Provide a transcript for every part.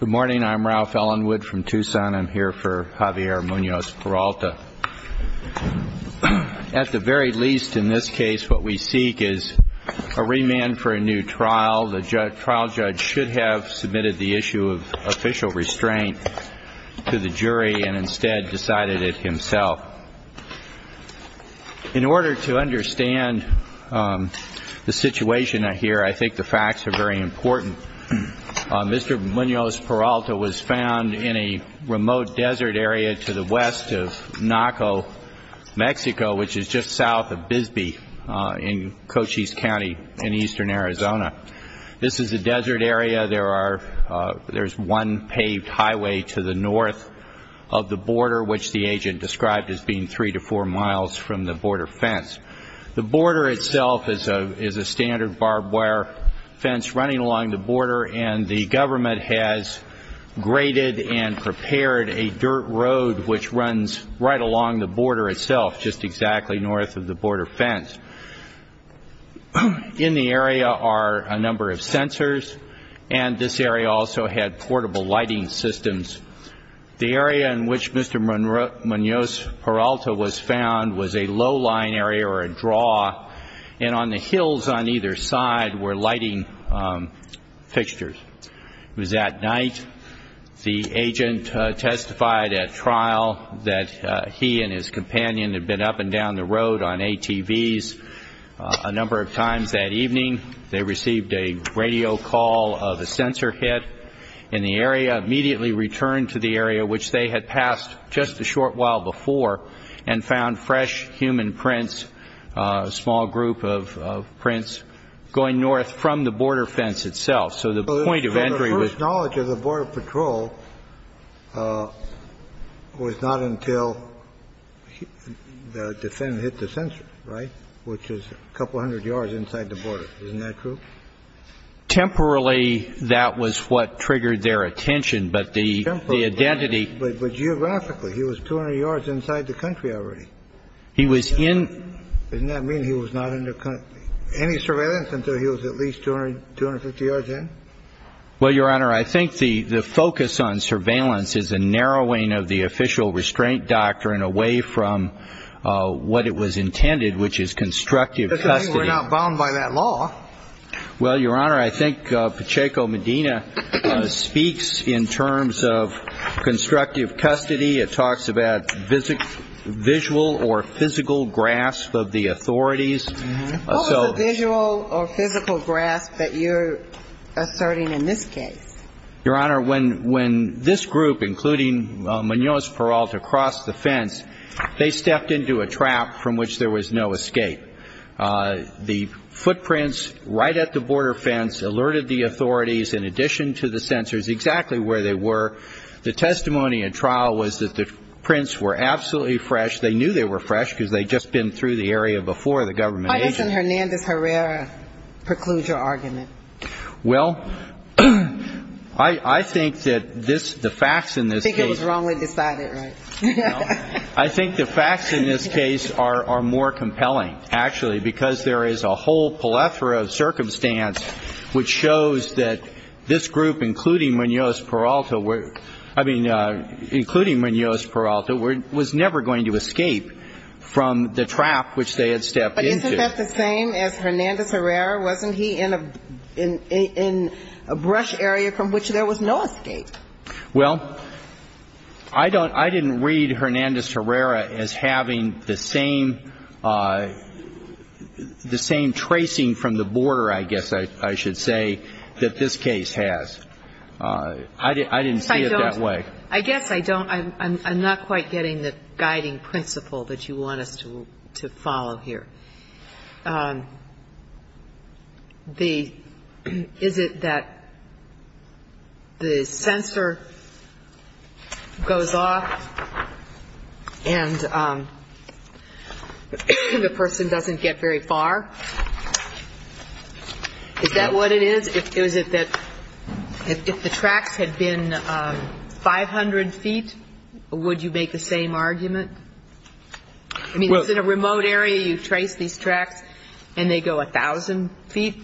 Good morning. I'm Ralph Ellenwood from Tucson. I'm here for Javier Munoz-Peralta. At the very least, in this case, what we seek is a remand for a new trial. The trial judge should have submitted the issue of official restraint to the jury and instead decided it himself. In order to understand the situation here, I think the facts are very important. Mr. Munoz-Peralta was found in a remote desert area to the west of Naco, Mexico, which is just south of Bisbee in Cochise County in eastern Arizona. This is a desert area. There is one paved highway to the north of the border, which the agent described as being three to four miles from the border fence. The border itself is a standard barbed wire fence running along the border, and the government has graded and prepared a dirt road which runs right along the border itself, just exactly north of the border fence. In the area are a number of sensors, and this area also had portable lighting systems. The area in which Mr. Munoz-Peralta was found was a low-lying area or a draw, and on the hills on either side were lighting fixtures. It was at night. The agent testified at trial that he and his companion had been up and down the road on ATVs a number of times that evening. They received a radio call of a sensor hit in the area, immediately returned to the area, which they had passed just a short while before, and found fresh human prints, a small group of prints going north from the border fence itself. So the point of entry was— So the first knowledge of the Border Patrol was not until the defendant hit the sensor, right, which is a couple hundred yards inside the border. Isn't that true? Temporarily, that was what triggered their attention, but the identity— But geographically, he was 200 yards inside the country already. He was in— Doesn't that mean he was not under any surveillance until he was at least 250 yards in? Well, Your Honor, I think the focus on surveillance is a narrowing of the official restraint doctrine away from what it was intended, which is constructive custody. Doesn't mean we're not bound by that law. Well, Your Honor, I think Pacheco Medina speaks in terms of constructive custody. It talks about visual or physical grasp of the authorities. What was the visual or physical grasp that you're asserting in this case? Your Honor, when this group, including Munoz-Peralta, crossed the fence, they stepped into a trap from which there was no escape. The footprints right at the border fence alerted the authorities, in addition to the sensors, exactly where they were. The testimony at trial was that the prints were absolutely fresh. They knew they were fresh because they'd just been through the area before the government— Why doesn't Hernandez-Herrera preclude your argument? Well, I think that the facts in this case— I think it was wrongly decided, right? I think the facts in this case are more compelling, actually, because there is a whole plethora of circumstance which shows that this group, including Munoz-Peralta, was never going to escape from the trap which they had stepped into. But isn't that the same as Hernandez-Herrera? Wasn't he in a brush area from which there was no escape? Well, I don't – I didn't read Hernandez-Herrera as having the same – the same tracing from the border, I guess I should say, that this case has. I didn't see it that way. I guess I don't – I'm not quite getting the guiding principle that you want us to follow here. Is it that the sensor goes off and the person doesn't get very far? Is that what it is? Is it that if the tracks had been 500 feet, would you make the same argument? I mean, is it a remote area? You trace these tracks and they go 1,000 feet?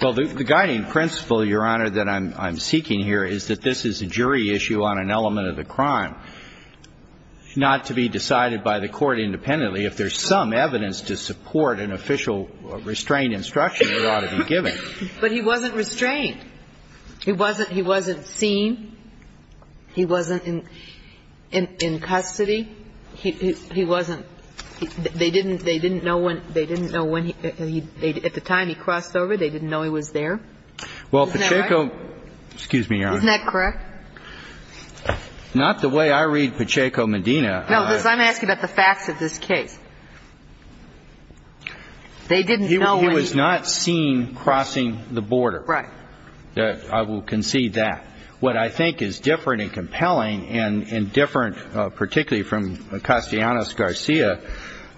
Well, the guiding principle, Your Honor, that I'm seeking here is that this is a jury issue on an element of the crime, not to be decided by the court independently. If there's some evidence to support an official restraint instruction, it ought to be given. But he wasn't restrained. He wasn't seen. He wasn't in custody. He wasn't – they didn't know when – they didn't know when he – at the time he crossed over, they didn't know he was there. Isn't that right? Well, Pacheco – excuse me, Your Honor. Isn't that correct? Not the way I read Pacheco-Medina. No, because I'm asking about the facts of this case. They didn't know when he – He was not seen crossing the border. Right. I will concede that. What I think is different and compelling and different, particularly from Castellanos-Garcia,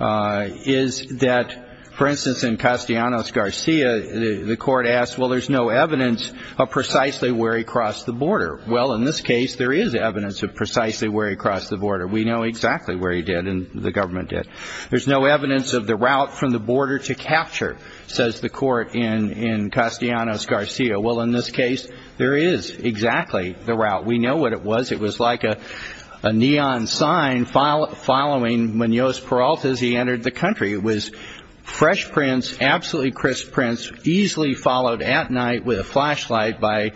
is that, for instance, in Castellanos-Garcia, the court asked, well, there's no evidence of precisely where he crossed the border. Well, in this case, there is evidence of precisely where he crossed the border. We know exactly where he did and the government did. There's no evidence of the route from the border to capture, says the court in Castellanos-Garcia. Well, in this case, there is exactly the route. We know what it was. It was like a neon sign following Munoz-Peralta as he entered the country. It was fresh prints, absolutely crisp prints, easily followed at night with a flashlight by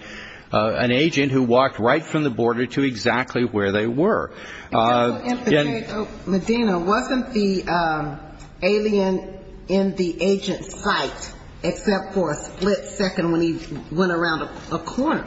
an agent who walked right from the border to exactly where they were. Because in Pacheco-Medina, wasn't the alien in the agent's sight except for a split second when he went around a corner?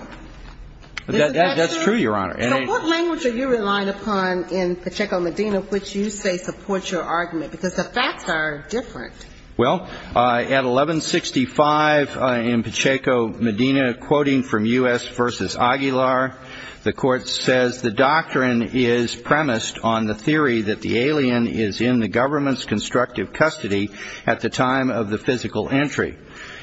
That's true, Your Honor. So what language are you relying upon in Pacheco-Medina which you say supports your argument? Because the facts are different. Well, at 1165 in Pacheco-Medina, quoting from U.S. v. Aguilar, the court says, The doctrine is premised on the theory that the alien is in the government's constructive custody at the time of the physical entry.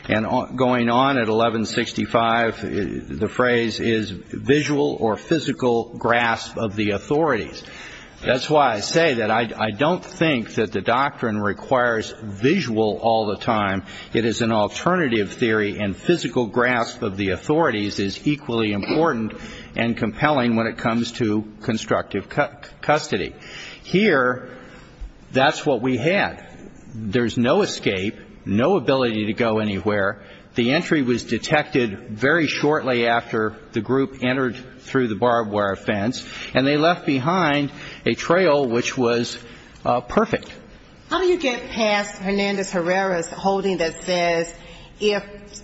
And going on at 1165, the phrase is visual or physical grasp of the authorities. That's why I say that I don't think that the doctrine requires visual all the time. It is an alternative theory, and physical grasp of the authorities is equally important and compelling when it comes to constructive custody. Here, that's what we had. There's no escape, no ability to go anywhere. The entry was detected very shortly after the group entered through the barbed wire fence, and they left behind a trail which was perfect. How do you get past Hernandez-Herrera's holding that says if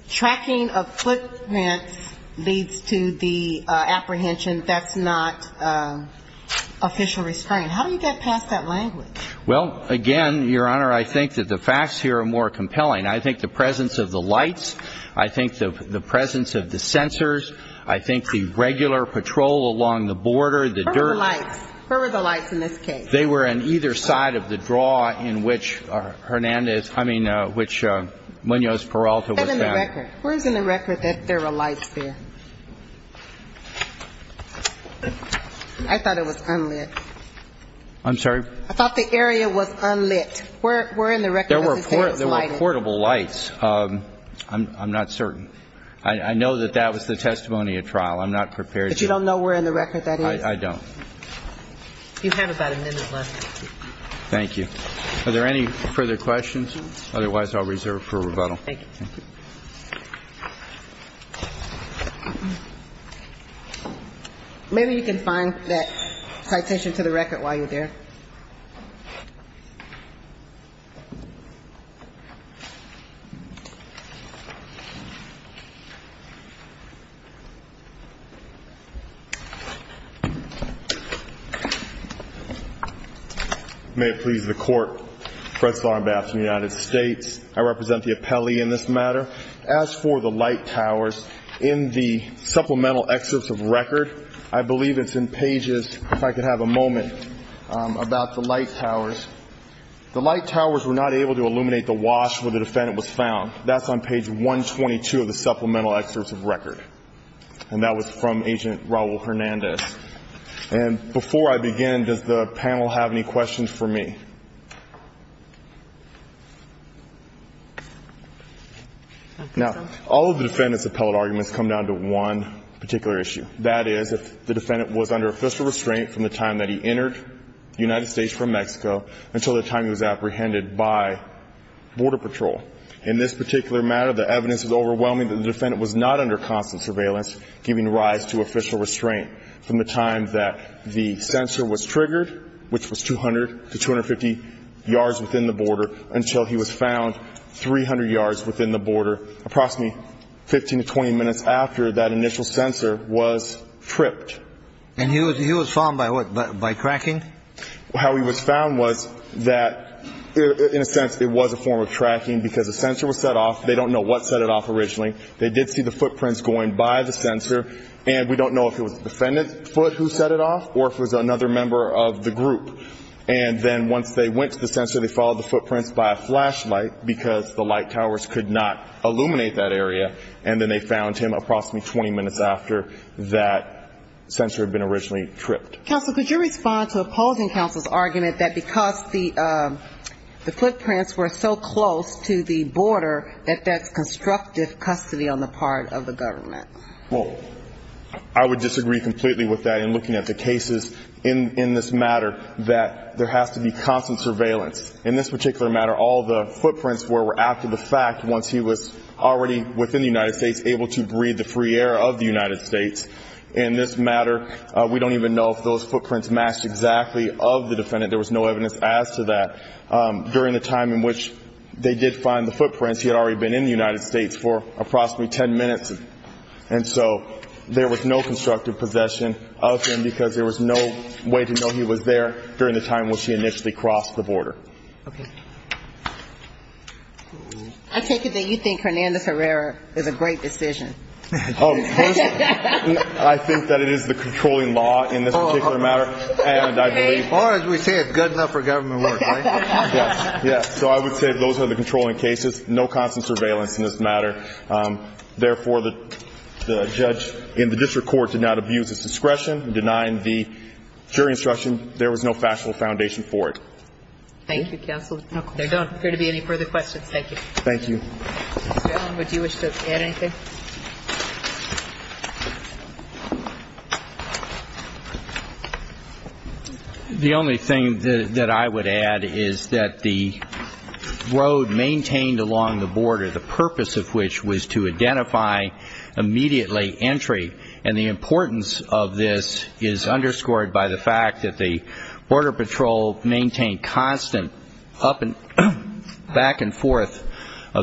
tracking of footprints leads to the apprehension, that's not official restraint? How do you get past that language? Well, again, Your Honor, I think that the facts here are more compelling. I think the presence of the lights, I think the presence of the sensors, I think the regular patrol along the border, the dirt. Where were the lights? Where were the lights in this case? They were on either side of the draw in which Hernandez, I mean, which Munoz-Peralta was found. Where's in the record that there were lights there? I thought it was unlit. I'm sorry? I thought the area was unlit. Where in the record does it say it was lighted? There were portable lights. I'm not certain. I know that that was the testimony at trial. I'm not prepared. But you don't know where in the record that is? I don't. You have about a minute left. Thank you. Are there any further questions? Otherwise, I'll reserve for rebuttal. Thank you. Thank you. Maybe you can find that citation to the record while you're there. Thank you. Now, all of the defendant's appellate arguments come down to one particular issue. That is, if the defendant was under official restraint from the time that he entered the United States from Mexico until the time he was apprehended by Border Patrol. In this particular matter, the evidence is overwhelming that the defendant was not under constant surveillance, giving rise to official restraint from the time that the sensor was triggered, which was 200 to 250 yards within the border, until he was found 300 yards within the border, approximately 15 to 20 minutes after that initial sensor was tripped. And he was found by what? By tracking? How he was found was that, in a sense, it was a form of tracking because the sensor was set off. They don't know what set it off originally. They did see the footprints going by the sensor, and we don't know if it was the defendant's foot who set it off or if it was another member of the group. And then once they went to the sensor, they followed the footprints by a flashlight because the light towers could not illuminate that area, and then they found him approximately 20 minutes after that sensor had been originally tripped. Counsel, could you respond to opposing counsel's argument that because the footprints were so close to the border, that that's constructive custody on the part of the government? Well, I would disagree completely with that in looking at the cases in this matter, that there has to be constant surveillance. In this particular matter, all the footprints were after the fact once he was already within the United States able to breathe the free air of the United States. In this matter, we don't even know if those footprints matched exactly of the defendant. There was no evidence as to that. During the time in which they did find the footprints, she had already been in the United States for approximately 10 minutes, and so there was no constructive possession of him because there was no way to know he was there during the time when she initially crossed the border. Okay. I take it that you think Hernandez-Herrera is a great decision. Oh, first, I think that it is the controlling law in this particular matter, and I believe ñ Or as we say, it's good enough for government work, right? Yes. So I would say those are the controlling cases, no constant surveillance in this matter. Therefore, the judge in the district court did not abuse his discretion in denying the jury instruction. There was no factual foundation for it. Thank you, counsel. There don't appear to be any further questions. Thank you. Thank you. Mr. Allen, would you wish to add anything? The only thing that I would add is that the road maintained along the border, the purpose of which was to identify immediately entry, and the importance of this is underscored by the fact that the Border Patrol maintained constant up and back and forth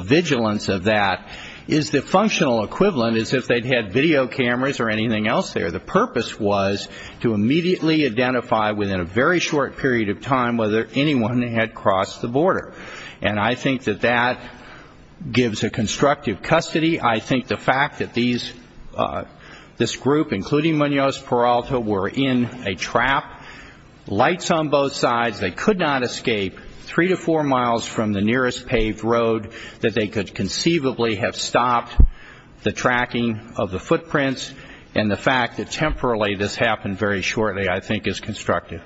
vigilance of that, is the functional equivalent as if they'd had video cameras or anything else there. The purpose was to immediately identify within a very short period of time whether anyone had crossed the border. And I think that that gives a constructive custody. I think the fact that this group, including Munoz Peralta, were in a trap, lights on both sides, they could not escape three to four miles from the nearest paved road that they could conceivably have stopped the tracking of the footprints. And the fact that temporarily this happened very shortly, I think, is constructive.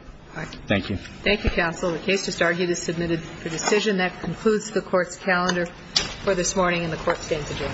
Thank you. Thank you, counsel. The case just argued is submitted for decision. That concludes the Court's calendar for this morning and the Court stands adjourned. Thank you.